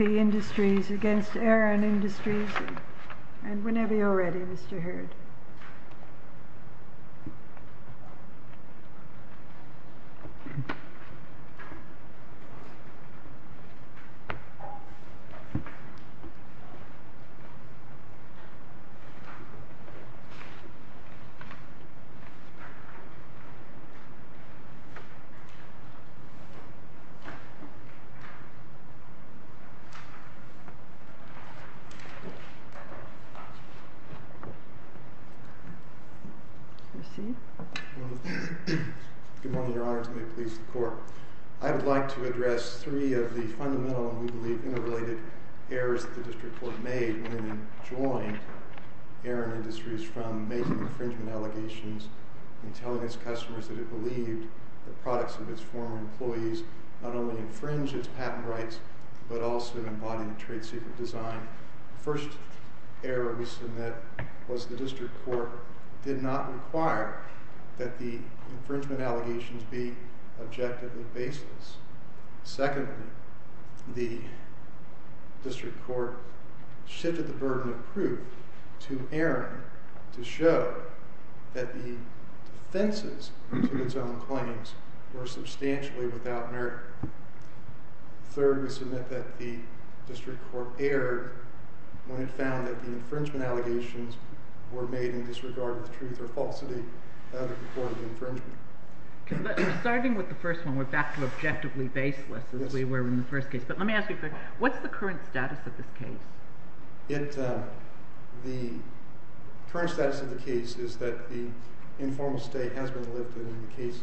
Eran Industries v. Eran Industries Order 07-1087 Order 07-1087 Whenever you're ready, Mr. Hurd. Good morning, Your Honor, and may it please the Court. I would like to address three of the fundamental, and we believe interrelated, errors that the District Court made when it joined Eran Industries from making infringement allegations and telling its customers that it believed that products of its former employees not only infringe its patent rights, but also embody trade secret design. The first error we submit was the District Court did not require that the infringement allegations be objectively baseless. Secondly, the District Court shifted the burden of proof to Eran to show that the defenses to its own claims were substantially without merit. Third, we submit that the District Court erred when it found that the infringement allegations were made in disregard of the truth or falsity of the report of the infringement. Starting with the first one, we're back to objectively baseless as we were in the first case. But let me ask you a question. What's the current status of this case? The current status of the case is that the informal state has been lifted and the case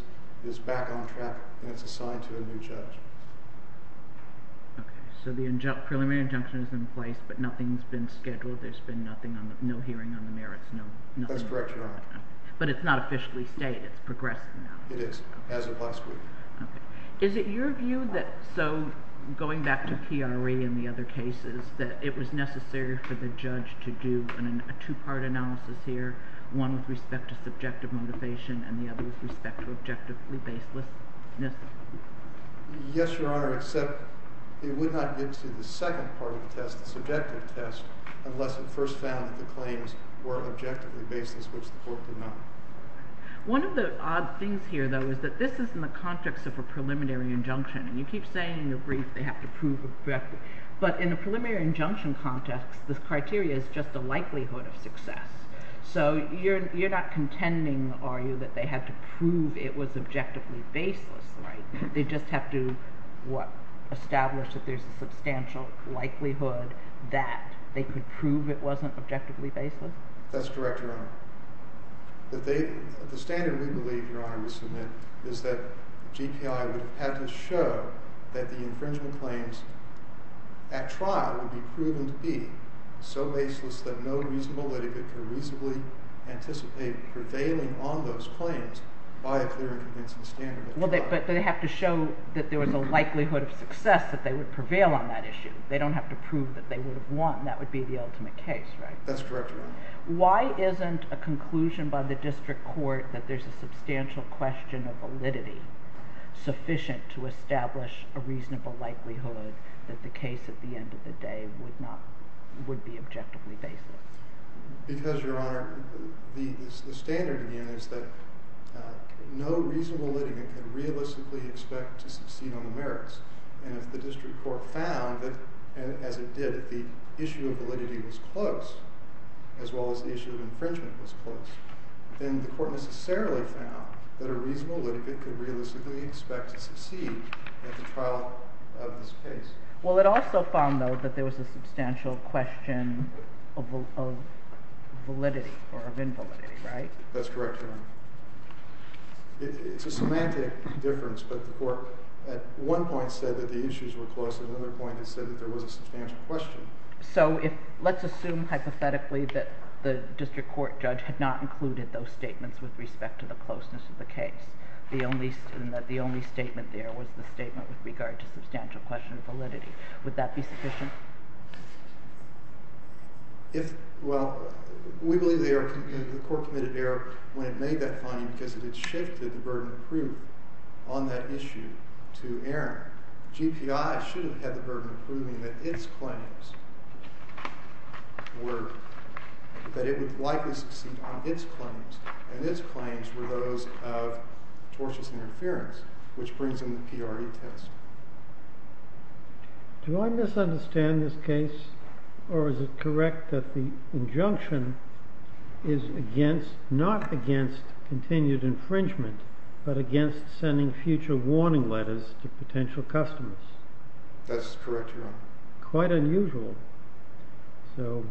is back on track and it's assigned to a new judge. Okay. So the preliminary injunction has been placed, but nothing's been scheduled. There's been no hearing on the merits. That's correct, Your Honor. But it's not officially stated. It's progressed now. It is, as of last week. Okay. Is it your view that, so going back to PRE and the other cases, that it was necessary for the judge to do a two-part analysis here, one with respect to subjective motivation and the other with respect to objectively baselessness? Yes, Your Honor, except it would not get to the second part of the test, the subjective test, unless it first found that the claims were objectively baseless, which the court did not. One of the odd things here, though, is that this is in the context of a preliminary injunction, and you keep saying in the brief they have to prove objectively. But in a preliminary injunction context, this criteria is just a likelihood of success. So you're not contending, are you, that they had to prove it was objectively baseless, right? They just have to, what, establish that there's a substantial likelihood that they could prove it wasn't objectively baseless? That's correct, Your Honor. The standard we believe, Your Honor, we submit is that GPI would have to show that the infringement claims at trial would be proven to be so baseless that no reasonable litigant could reasonably anticipate prevailing on those claims by a clear and convincing standard. But they have to show that there was a likelihood of success that they would prevail on that issue. They don't have to prove that they would have won. That would be the ultimate case, right? That's correct, Your Honor. Why isn't a conclusion by the district court that there's a substantial question of validity sufficient to establish a reasonable likelihood that the case at the end of the day would be objectively baseless? Because, Your Honor, the standard is that no reasonable litigant could realistically expect to succeed on the merits. And if the district court found that, as it did, the issue of validity was close, as well as the issue of infringement was close, then the court necessarily found that a reasonable litigant could realistically expect to succeed at the trial of this case. Well, it also found, though, that there was a substantial question of validity or of invalidity, right? That's correct, Your Honor. It's a semantic difference, but the court, at one point, said that the issues were close. At another point, it said that there was a substantial question. So let's assume, hypothetically, that the district court judge had not included those statements with respect to the closeness of the case, and that the only statement there was the statement with regard to substantial question of validity. Would that be sufficient? Well, we believe the court committed error when it made that finding, because it had shifted the burden of proof on that issue to Aaron. GPI should have had the burden of proving that it would likely succeed on its claims, and its claims were those of tortious interference, which brings in the PRE test. Do I misunderstand this case, or is it correct that the injunction is not against continued infringement, but against sending future warning letters to potential customers? That's correct, Your Honor. Quite unusual. So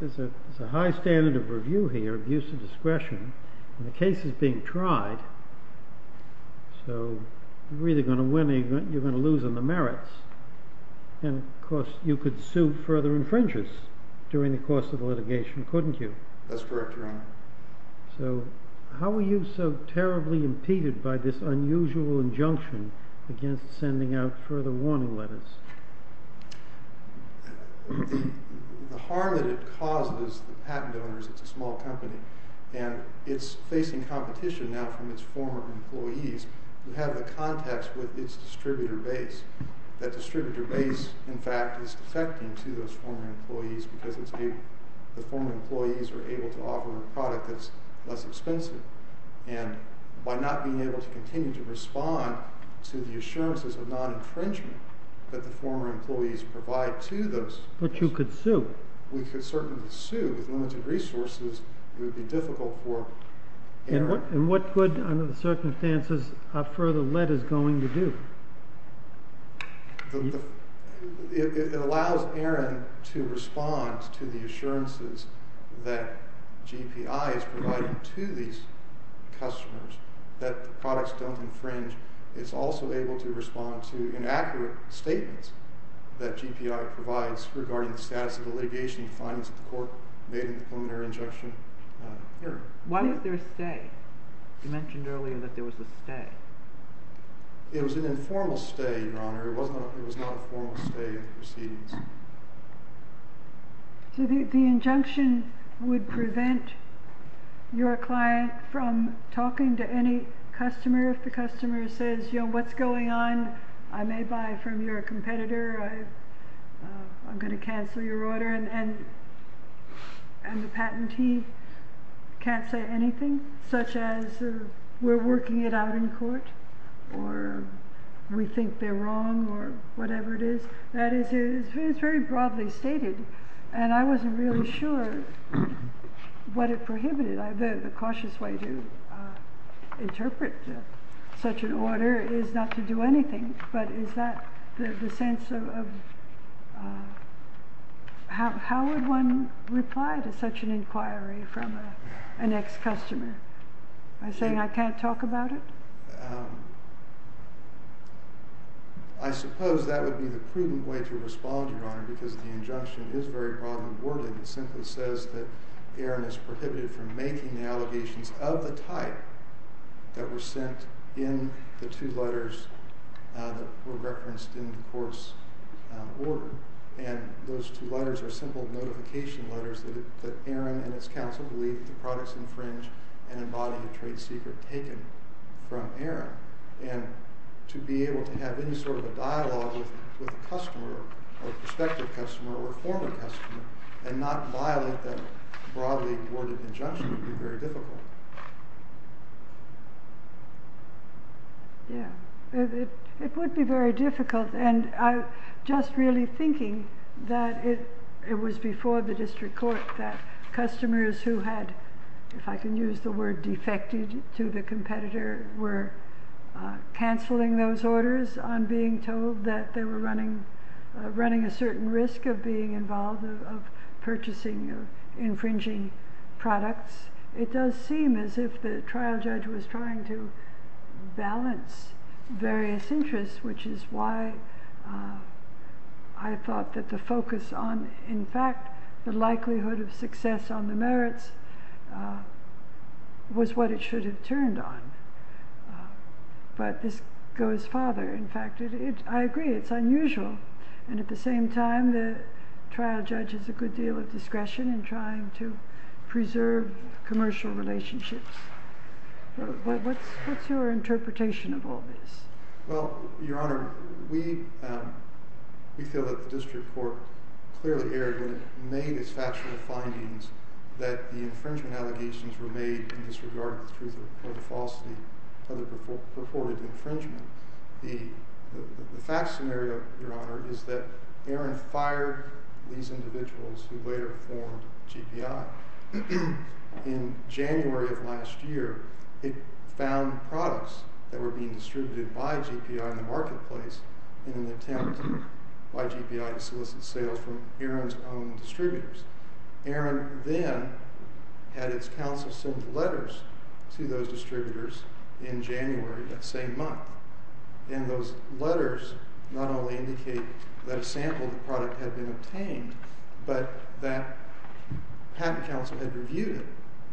there's a high standard of review here, abuse of discretion, and the case is being tried, so you're either going to win or you're going to lose on the merits. And, of course, you could sue further infringers during the course of litigation, couldn't you? That's correct, Your Honor. So how were you so terribly impeded by this unusual injunction against sending out further warning letters? The harm that it causes the patent owners, it's a small company, and it's facing competition now from its former employees who have the contacts with its distributor base. That distributor base, in fact, is defecting to those former employees because the former employees are able to offer a product that's less expensive. And by not being able to continue to respond to the assurances of non-infringement that the former employees provide to those— But you could sue. We could certainly sue. With limited resources, it would be difficult for Aaron— And what could, under the circumstances, a further letter is going to do? It allows Aaron to respond to the assurances that GPI is providing to these customers that the products don't infringe. It's also able to respond to inaccurate statements that GPI provides regarding the status of the litigation and findings of the court made in the preliminary injunction. Why is there a stay? You mentioned earlier that there was a stay. It was an informal stay, Your Honor. It was not a formal stay of proceedings. So the injunction would prevent your client from talking to any customer if the customer says, you know, what's going on? I may buy from your competitor. I'm going to cancel your order. And the patentee can't say anything, such as we're working it out in court, or we think they're wrong, or whatever it is. That is, it's very broadly stated, and I wasn't really sure what it prohibited. The cautious way to interpret such an order is not to do anything, but is that the sense of— How would one reply to such an inquiry from an ex-customer? By saying, I can't talk about it? I suppose that would be the prudent way to respond, Your Honor, because the injunction is very broadly worded. It simply says that Aaron is prohibited from making the allegations of the type that were sent in the two letters that were referenced in the court's order. And those two letters are simple notification letters that Aaron and his counsel believe the products infringe and embody a trade secret taken from Aaron. And to be able to have any sort of a dialogue with a customer, a prospective customer or a former customer, and not violate that broadly worded injunction would be very difficult. Yeah, it would be very difficult, and I'm just really thinking that it was before the district court that customers who had, if I can use the word defected to the competitor, were canceling those orders on being told that they were running a certain risk of being involved, of purchasing or infringing products. It does seem as if the trial judge was trying to balance various interests, which is why I thought that the focus on, in fact, the likelihood of success on the merits was what it should have turned on. But this goes farther. In fact, I agree, it's unusual. And at the same time, the trial judge has a good deal of discretion in trying to preserve commercial relationships. What's your interpretation of all this? Well, Your Honor, we feel that the district court clearly erred when it made its factual findings that the infringement allegations were made in disregard of the truth or the falsity of the purported infringement. The fact scenario, Your Honor, is that Aaron fired these individuals who later formed GPI. In January of last year, it found products that were being distributed by GPI in the marketplace in an attempt by GPI to solicit sales from Aaron's own distributors. Aaron then had its counsel send letters to those distributors in January of that same month. And those letters not only indicate that a sample of the product had been obtained, but that patent counsel had reviewed it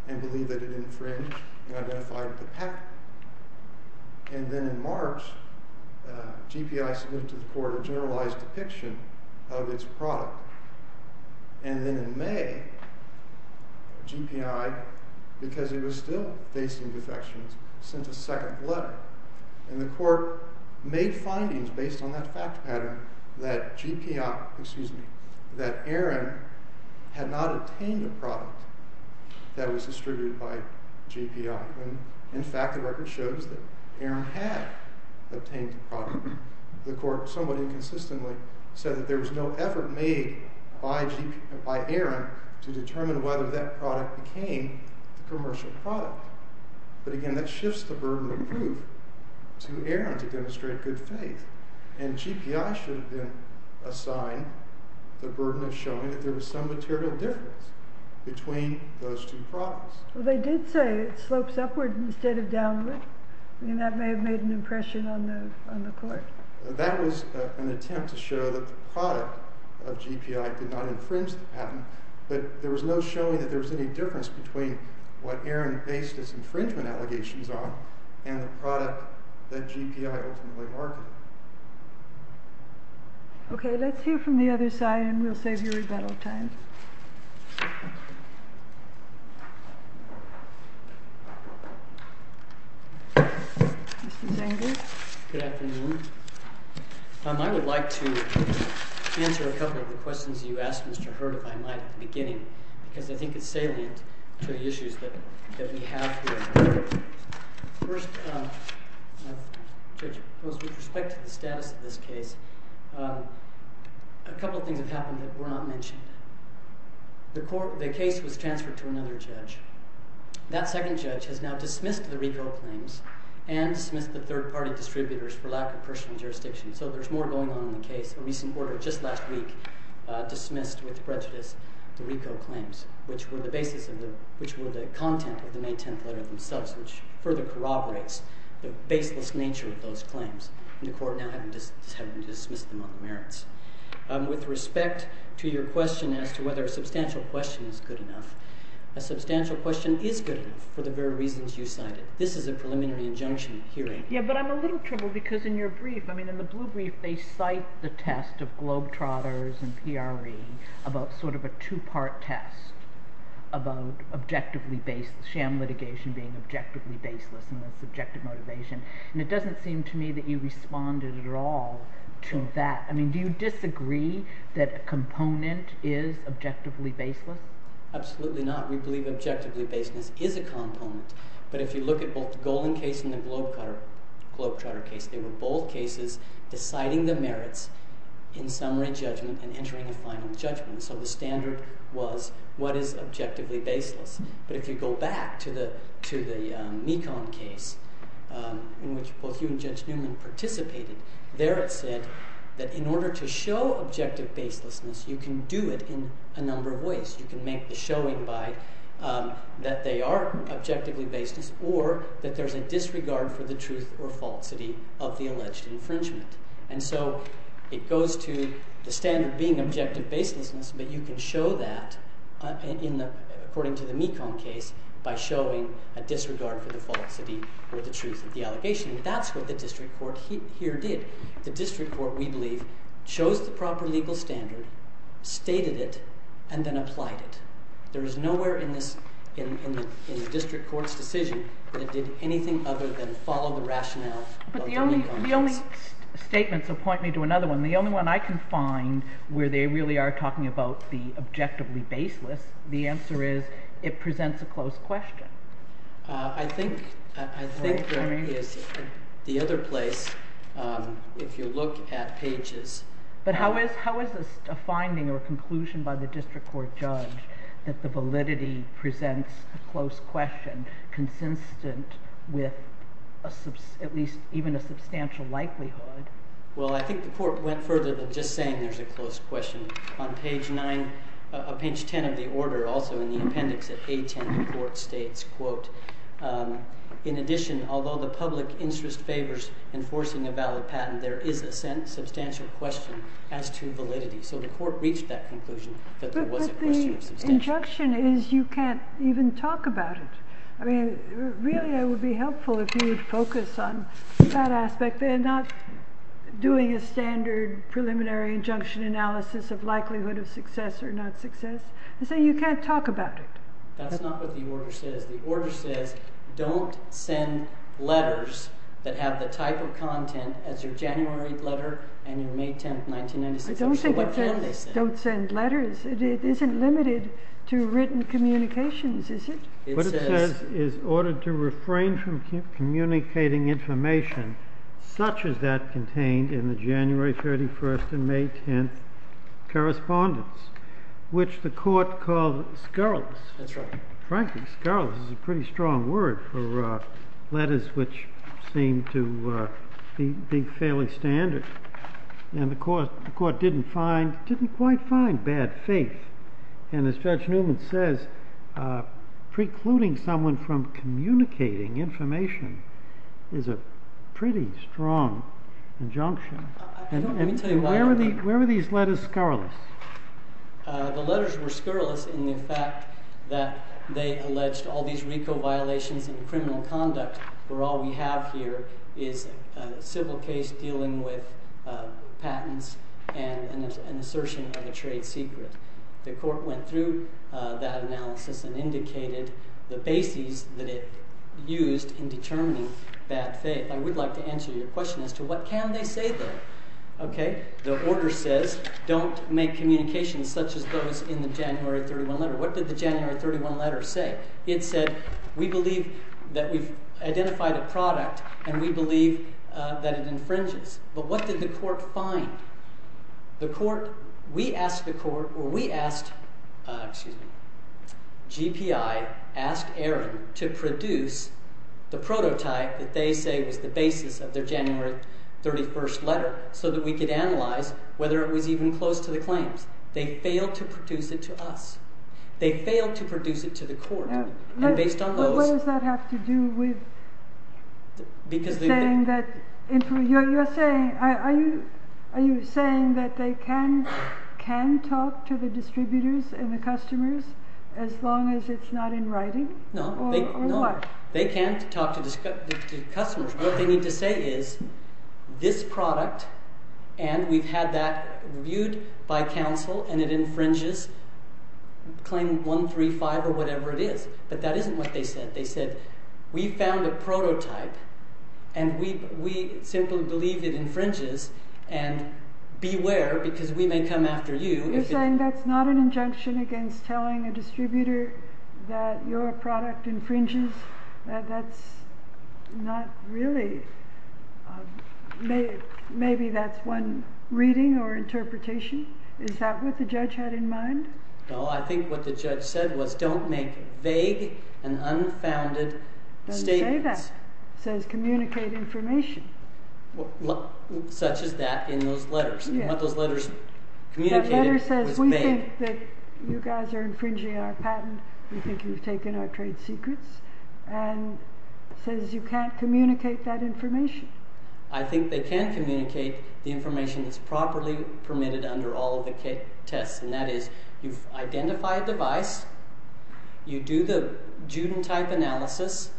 and believed that it infringed and identified the patent. And then in March, GPI submitted to the court a generalized depiction of its product. And then in May, GPI, because it was still facing defections, sent a second letter. And the court made findings based on that fact pattern that Aaron had not obtained a product that was distributed by GPI. In fact, the record shows that Aaron had obtained the product. The court somewhat inconsistently said that there was no effort made by Aaron to determine whether that product became the commercial product. But again, that shifts the burden of proof to Aaron to demonstrate good faith. And GPI should have been assigned the burden of showing that there was some material difference between those two products. Well, they did say it slopes upward instead of downward. I mean, that may have made an impression on the court. That was an attempt to show that the product of GPI did not infringe the patent. But there was no showing that there was any difference between what Aaron based his infringement allegations on and the product that GPI ultimately marketed. OK, let's hear from the other side and we'll save you rebuttal time. Mr. Zenger? Good afternoon. I would like to answer a couple of the questions you asked Mr. Hurd, if I might, at the beginning because I think it's salient to the issues that we have here. First, with respect to the status of this case, a couple of things have happened that were not mentioned. The case was transferred to another judge. That second judge has now dismissed the RICO claims and dismissed the third-party distributors for lack of personal jurisdiction. So there's more going on in the case. A recent order just last week dismissed with prejudice the RICO claims, which were the content of the May 10th letter themselves, which further corroborates the baseless nature of those claims. And the court now has dismissed them on the merits. With respect to your question as to whether a substantial question is good enough, a substantial question is good enough for the very reasons you cited. This is a preliminary injunction hearing. Yeah, but I'm a little troubled because in your brief, I mean, in the blue brief, they cite the test of globetrotters and PRE about sort of a two-part test about objectively baseless, sham litigation being objectively baseless and its objective motivation. And it doesn't seem to me that you responded at all to that. I mean, do you disagree that a component is objectively baseless? Absolutely not. We believe objectively baseless is a component. But if you look at both the Golan case and the globetrotter case, they were both cases deciding the merits in summary judgment and entering a final judgment. So the standard was what is objectively baseless. But if you go back to the Mekong case in which both you and Judge Newman participated, there it said that in order to show objective baselessness, you can do it in a number of ways. You can make the showing that they are objectively baseless or that there's a disregard for the truth or falsity of the alleged infringement. And so it goes to the standard being objective baselessness, but you can show that according to the Mekong case by showing a disregard for the falsity or the truth of the allegation. And that's what the district court here did. The district court, we believe, chose the proper legal standard, stated it, and then applied it. There is nowhere in the district court's decision that it did anything other than follow the rationale of the Mekong case. The only statements that point me to another one, the only one I can find where they really are talking about the objectively baseless, the answer is it presents a close question. I think that is the other place, if you look at pages. But how is a finding or conclusion by the district court judge that the validity presents a close question consistent with at least even a substantial likelihood? Well, I think the court went further than just saying there's a close question. In addition, although the public interest favors enforcing a valid patent, there is a substantial question as to validity. So the court reached that conclusion that there was a question of substantial validity. But the injunction is you can't even talk about it. Really, it would be helpful if you would focus on that aspect and not doing a standard preliminary injunction analysis of likelihood of success or not success. You can't talk about it. That's not what the order says. The order says don't send letters that have the type of content as your January letter and your May 10, 1996 letter. I don't think it says don't send letters. It isn't limited to written communications, is it? What it says is ordered to refrain from communicating information such as that contained in the January 31 and May 10 correspondence, which the court called scurrilous. Frankly, scurrilous is a pretty strong word for letters which seem to be fairly standard. And the court didn't quite find bad faith. And as Judge Newman says, precluding someone from communicating information is a pretty strong injunction. Where were these letters scurrilous? The letters were scurrilous in the fact that they alleged all these RICO violations and criminal conduct were all we have here is a civil case dealing with patents and an assertion of a trade secret. The court went through that analysis and indicated the bases that it used in determining bad faith. I would like to answer your question as to what can they say there. The order says don't make communications such as those in the January 31 letter. What did the January 31 letter say? It said we believe that we've identified a product and we believe that it infringes. But what did the court find? The court, we asked the court, or we asked, excuse me, GPI asked Aaron to produce the prototype that they say was the basis of their January 31 letter so that we could analyze whether it was even close to the claims. They failed to produce it to us. They failed to produce it to the court. What does that have to do with saying that, are you saying that they can talk to the distributors and the customers as long as it's not in writing? No. Or what? They can't talk to the customers. What they need to say is this product and we've had that reviewed by counsel and it infringes claim 135 or whatever it is. But that isn't what they said. They said we found a prototype and we simply believe it infringes and beware because we may come after you. So you're saying that's not an injunction against telling a distributor that your product infringes? That's not really, maybe that's one reading or interpretation? Is that what the judge had in mind? No, I think what the judge said was don't make vague and unfounded statements. It doesn't say that. It says communicate information. Such as that in those letters. That letter says we think that you guys are infringing our patent. We think you've taken our trade secrets and says you can't communicate that information. I think they can communicate the information that's properly permitted under all of the tests and that is you've identified the device, you do the Juden type analysis,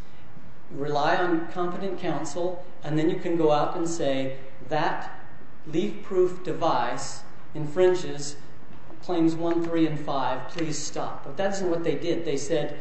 rely on competent counsel and then you can go out and say that leaf proof device infringes claims 135. Please stop. But that isn't what they did. They said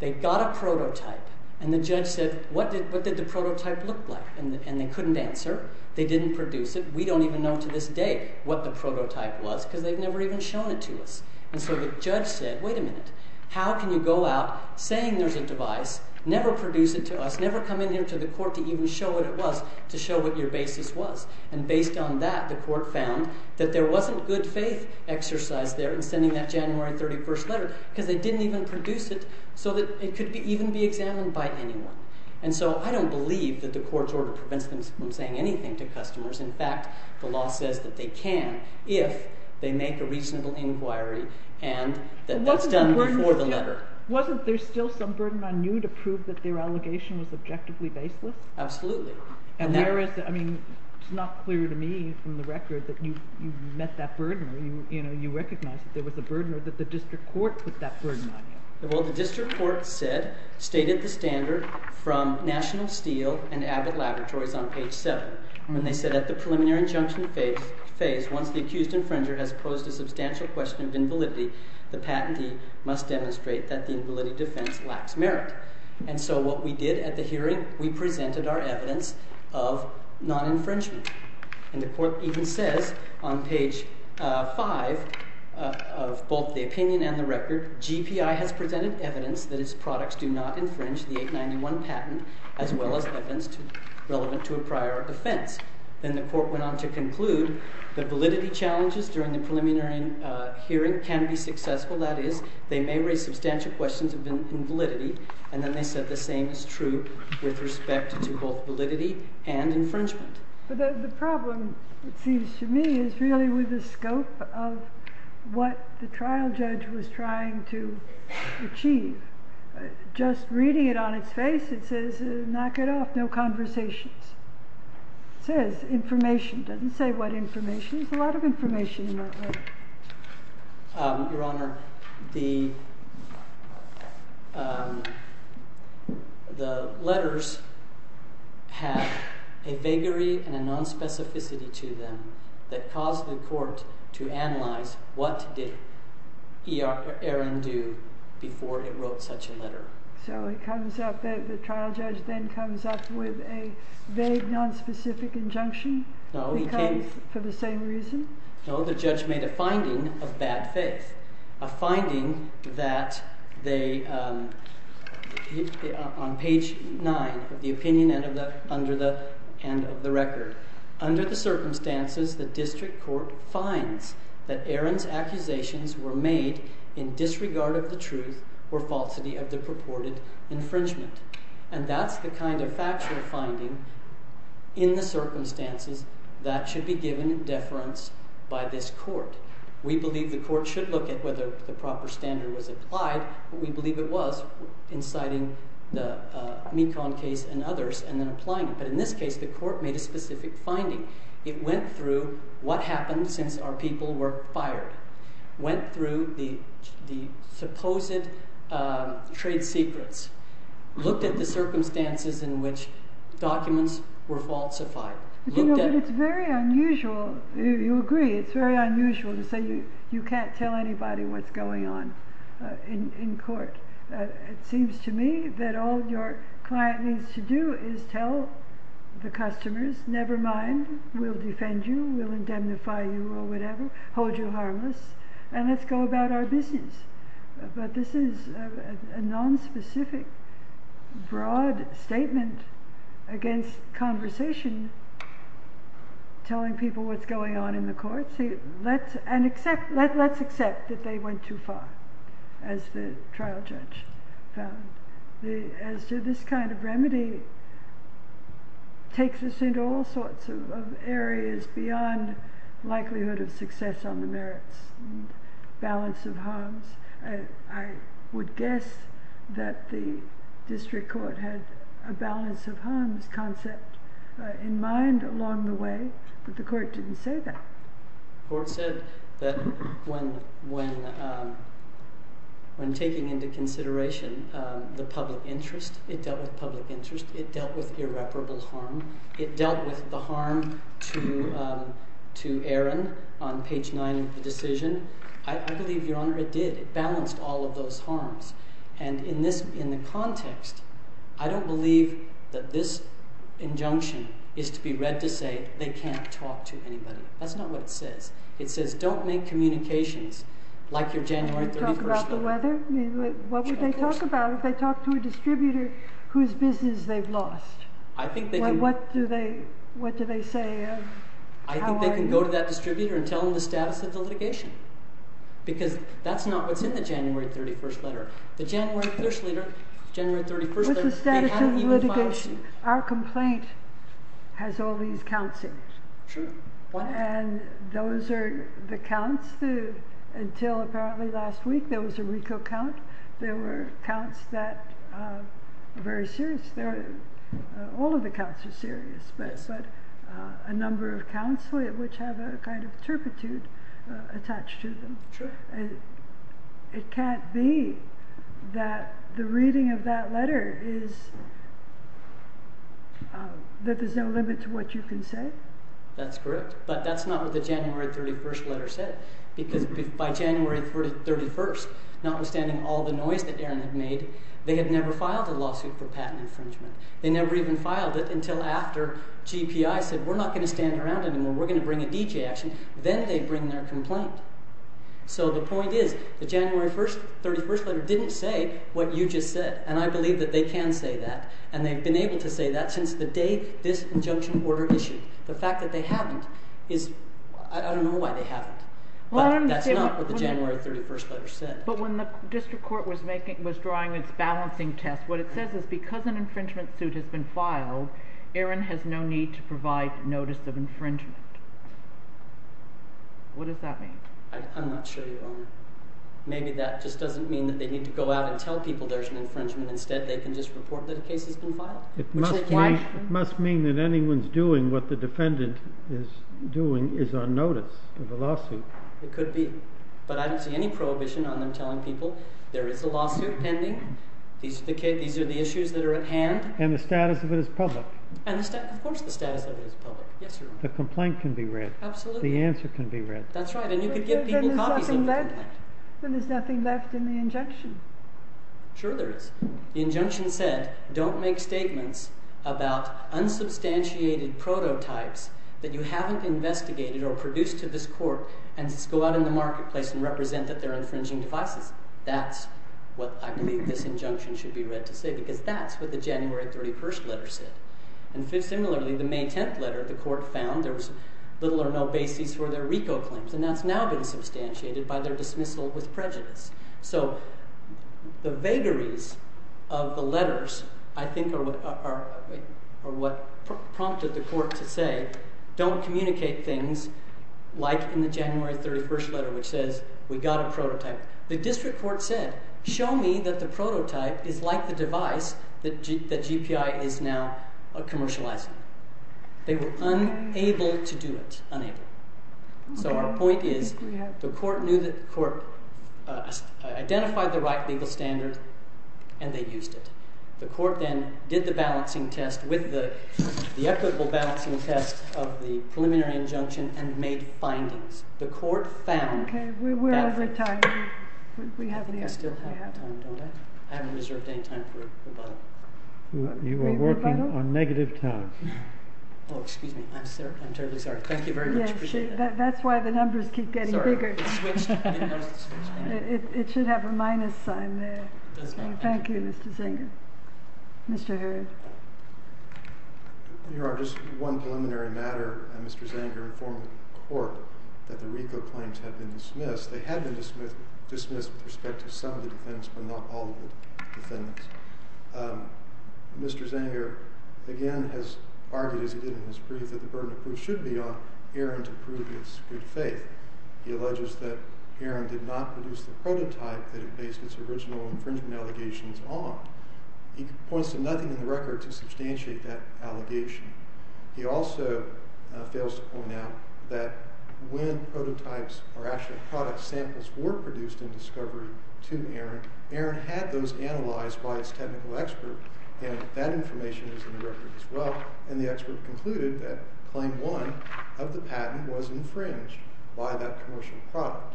they got a prototype and the judge said what did the prototype look like? And they couldn't answer. They didn't produce it. We don't even know to this day what the prototype was because they've never even shown it to us. And so the judge said wait a minute. How can you go out saying there's a device, never produce it to us, never come in here to the court to even show what it was to show what your basis was. And based on that the court found that there wasn't good faith exercise there in sending that January 31st letter because they didn't even produce it so that it could even be examined by anyone. And so I don't believe that the court's order prevents them from saying anything to customers. In fact, the law says that they can if they make a reasonable inquiry and that that's done before the letter. Wasn't there still some burden on you to prove that their allegation was objectively baseless? Absolutely. And whereas, I mean, it's not clear to me from the record that you met that burden or you recognized that there was a burden or that the district court put that burden on you. Well, the district court said, stated the standard from National Steel and Abbott Laboratories on page 7. And they said at the preliminary injunction phase, once the accused infringer has posed a substantial question of invalidity, the patentee must demonstrate that the invalidity defense lacks merit. And so what we did at the hearing, we presented our evidence of non-infringement. And the court even says on page 5 of both the opinion and the record, GPI has presented evidence that its products do not infringe the 891 patent as well as evidence relevant to a prior offense. Then the court went on to conclude that validity challenges during the preliminary hearing can be successful. That is, they may raise substantial questions of invalidity. And then they said the same is true with respect to both validity and infringement. But the problem, it seems to me, is really with the scope of what the trial judge was trying to achieve. Just reading it on its face, it says, knock it off, no conversations. It says information. It doesn't say what information. Your Honor, the letters have a vagary and a nonspecificity to them that caused the court to analyze what did Aaron do before it wrote such a letter. So the trial judge then comes up with a vague, nonspecific injunction for the same reason? No, the judge made a finding of bad faith, a finding that on page 9 of the opinion and of the record. Under the circumstances, the district court finds that Aaron's accusations were made in disregard of the truth or falsity of the purported infringement. And that's the kind of factual finding in the circumstances that should be given deference by this court. We believe the court should look at whether the proper standard was applied. We believe it was in citing the Mekong case and others and then applying it. But in this case, the court made a specific finding. It went through what happened since our people were fired. Went through the supposed trade secrets. Looked at the circumstances in which documents were falsified. It's very unusual. You agree it's very unusual to say you can't tell anybody what's going on in court. It seems to me that all your client needs to do is tell the customers, never mind. We'll defend you. We'll indemnify you or whatever. Hold you harmless. And let's go about our business. But this is a nonspecific, broad statement against conversation telling people what's going on in the court. Let's accept that they went too far, as the trial judge found. As to this kind of remedy takes us into all sorts of areas beyond likelihood of success on the merits. Balance of harms. I would guess that the district court had a balance of harms concept in mind along the way. But the court didn't say that. The court said that when taking into consideration the public interest, it dealt with public interest. It dealt with irreparable harm. It dealt with the harm to Aaron on page 9 of the decision. I believe, Your Honor, it did. It balanced all of those harms. In the context, I don't believe that this injunction is to be read to say they can't talk to anybody. That's not what it says. It says don't make communications like your January 31st letter. What would they talk about if they talked to a distributor whose business they've lost? What do they say? I think they can go to that distributor and tell them the status of the litigation. Because that's not what's in the January 31st letter. The January 31st letter, they haven't even filed a suit. Our complaint has all these counts in it. Sure. And those are the counts. Until apparently last week, there was a RICO count. They were counts that are very serious. All of the counts are serious. A number of counts which have a kind of turpitude attached to them. It can't be that the reading of that letter is that there's no limit to what you can say? That's correct. But that's not what the January 31st letter said. Because by January 31st, notwithstanding all the noise that Aaron had made, they had never filed a lawsuit for patent infringement. They never even filed it until after GPI said, We're not going to stand around anymore. We're going to bring a DJ action. Then they bring their complaint. So the point is the January 31st letter didn't say what you just said. And I believe that they can say that. And they've been able to say that since the day this injunction order issued. The fact that they haven't is – I don't know why they haven't. But that's not what the January 31st letter said. But when the district court was drawing its balancing test, what it says is because an infringement suit has been filed, Aaron has no need to provide notice of infringement. What does that mean? I'm not sure, Your Honor. Maybe that just doesn't mean that they need to go out and tell people there's an infringement. Instead, they can just report that a case has been filed. It must mean that anyone's doing what the defendant is doing is on notice of a lawsuit. It could be. But I don't see any prohibition on them telling people there is a lawsuit pending. These are the issues that are at hand. And the status of it is public. Of course the status of it is public. The complaint can be read. Absolutely. The answer can be read. That's right. And you could give people copies of the complaint. Then there's nothing left in the injunction. Sure there is. The injunction said don't make statements about unsubstantiated prototypes that you haven't investigated or produced to this court and just go out in the marketplace and represent that they're infringing devices. That's what I believe this injunction should be read to say because that's what the January 31st letter said. And similarly, the May 10th letter, the court found there was little or no basis for their RICO claims. And that's now been substantiated by their dismissal with prejudice. So the vagaries of the letters, I think, are what prompted the court to say don't communicate things like in the January 31st letter which says we got a prototype. The district court said show me that the prototype is like the device that GPI is now commercializing. They were unable to do it. Unable. So our point is the court knew that the court identified the right legal standard and they used it. The court then did the balancing test with the equitable balancing test of the preliminary injunction and made findings. The court found that. Okay, we're out of time. I think we still have time, don't I? I haven't reserved any time for rebuttal. You are working on negative time. Oh, excuse me. I'm terribly sorry. Thank you very much. Appreciate it. That's why the numbers keep getting bigger. Sorry, I didn't notice the switch. It should have a minus sign there. It does not. Thank you, Mr. Zanger. Mr. Hurd. Your Honor, just one preliminary matter. Mr. Zanger informed the court that the RICO claims had been dismissed. They had been dismissed with respect to some of the defendants but not all of the defendants. Mr. Zanger again has argued, as he did in his brief, that the burden of proof should be on Aaron to prove his good faith. He alleges that Aaron did not produce the prototype that it based its original infringement allegations on. He points to nothing in the record to substantiate that allegation. He also fails to point out that when prototypes or actually product samples were produced in discovery to Aaron, Aaron had those analyzed by its technical expert, and that information is in the record as well, and the expert concluded that claim one of the patent was infringed by that commercial product.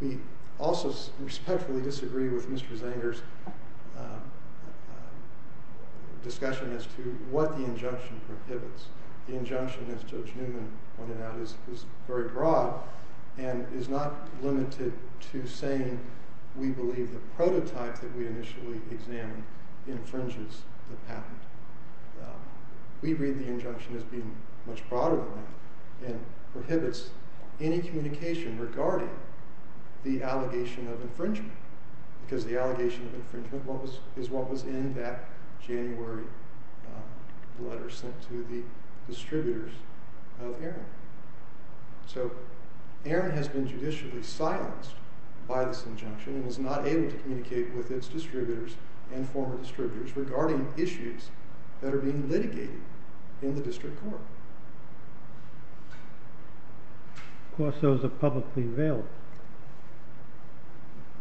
We also respectfully disagree with Mr. Zanger's discussion as to what the injunction prohibits. The injunction, as Judge Newman pointed out, is very broad and is not limited to saying we believe the prototype that we initially examined infringes the patent. We read the injunction as being much broader than that and prohibits any communication regarding the allegation of infringement because the allegation of infringement is what was in that January letter sent to the distributors of Aaron. So Aaron has been judicially silenced by this injunction and was not able to communicate with its distributors and former distributors regarding issues that are being litigated in the district court. Of course, those are publicly available.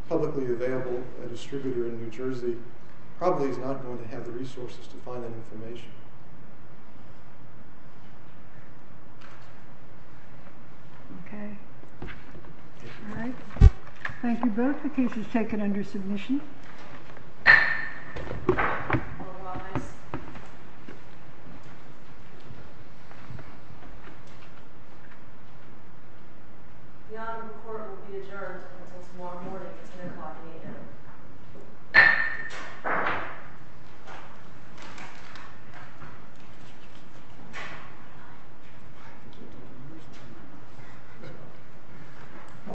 Publicly available, a distributor in New Jersey probably is not going to have the resources to find that information. Okay. All right. Thank you both. The case is taken under submission. The Honorable Court will be adjourned until tomorrow morning at 10 o'clock in the evening.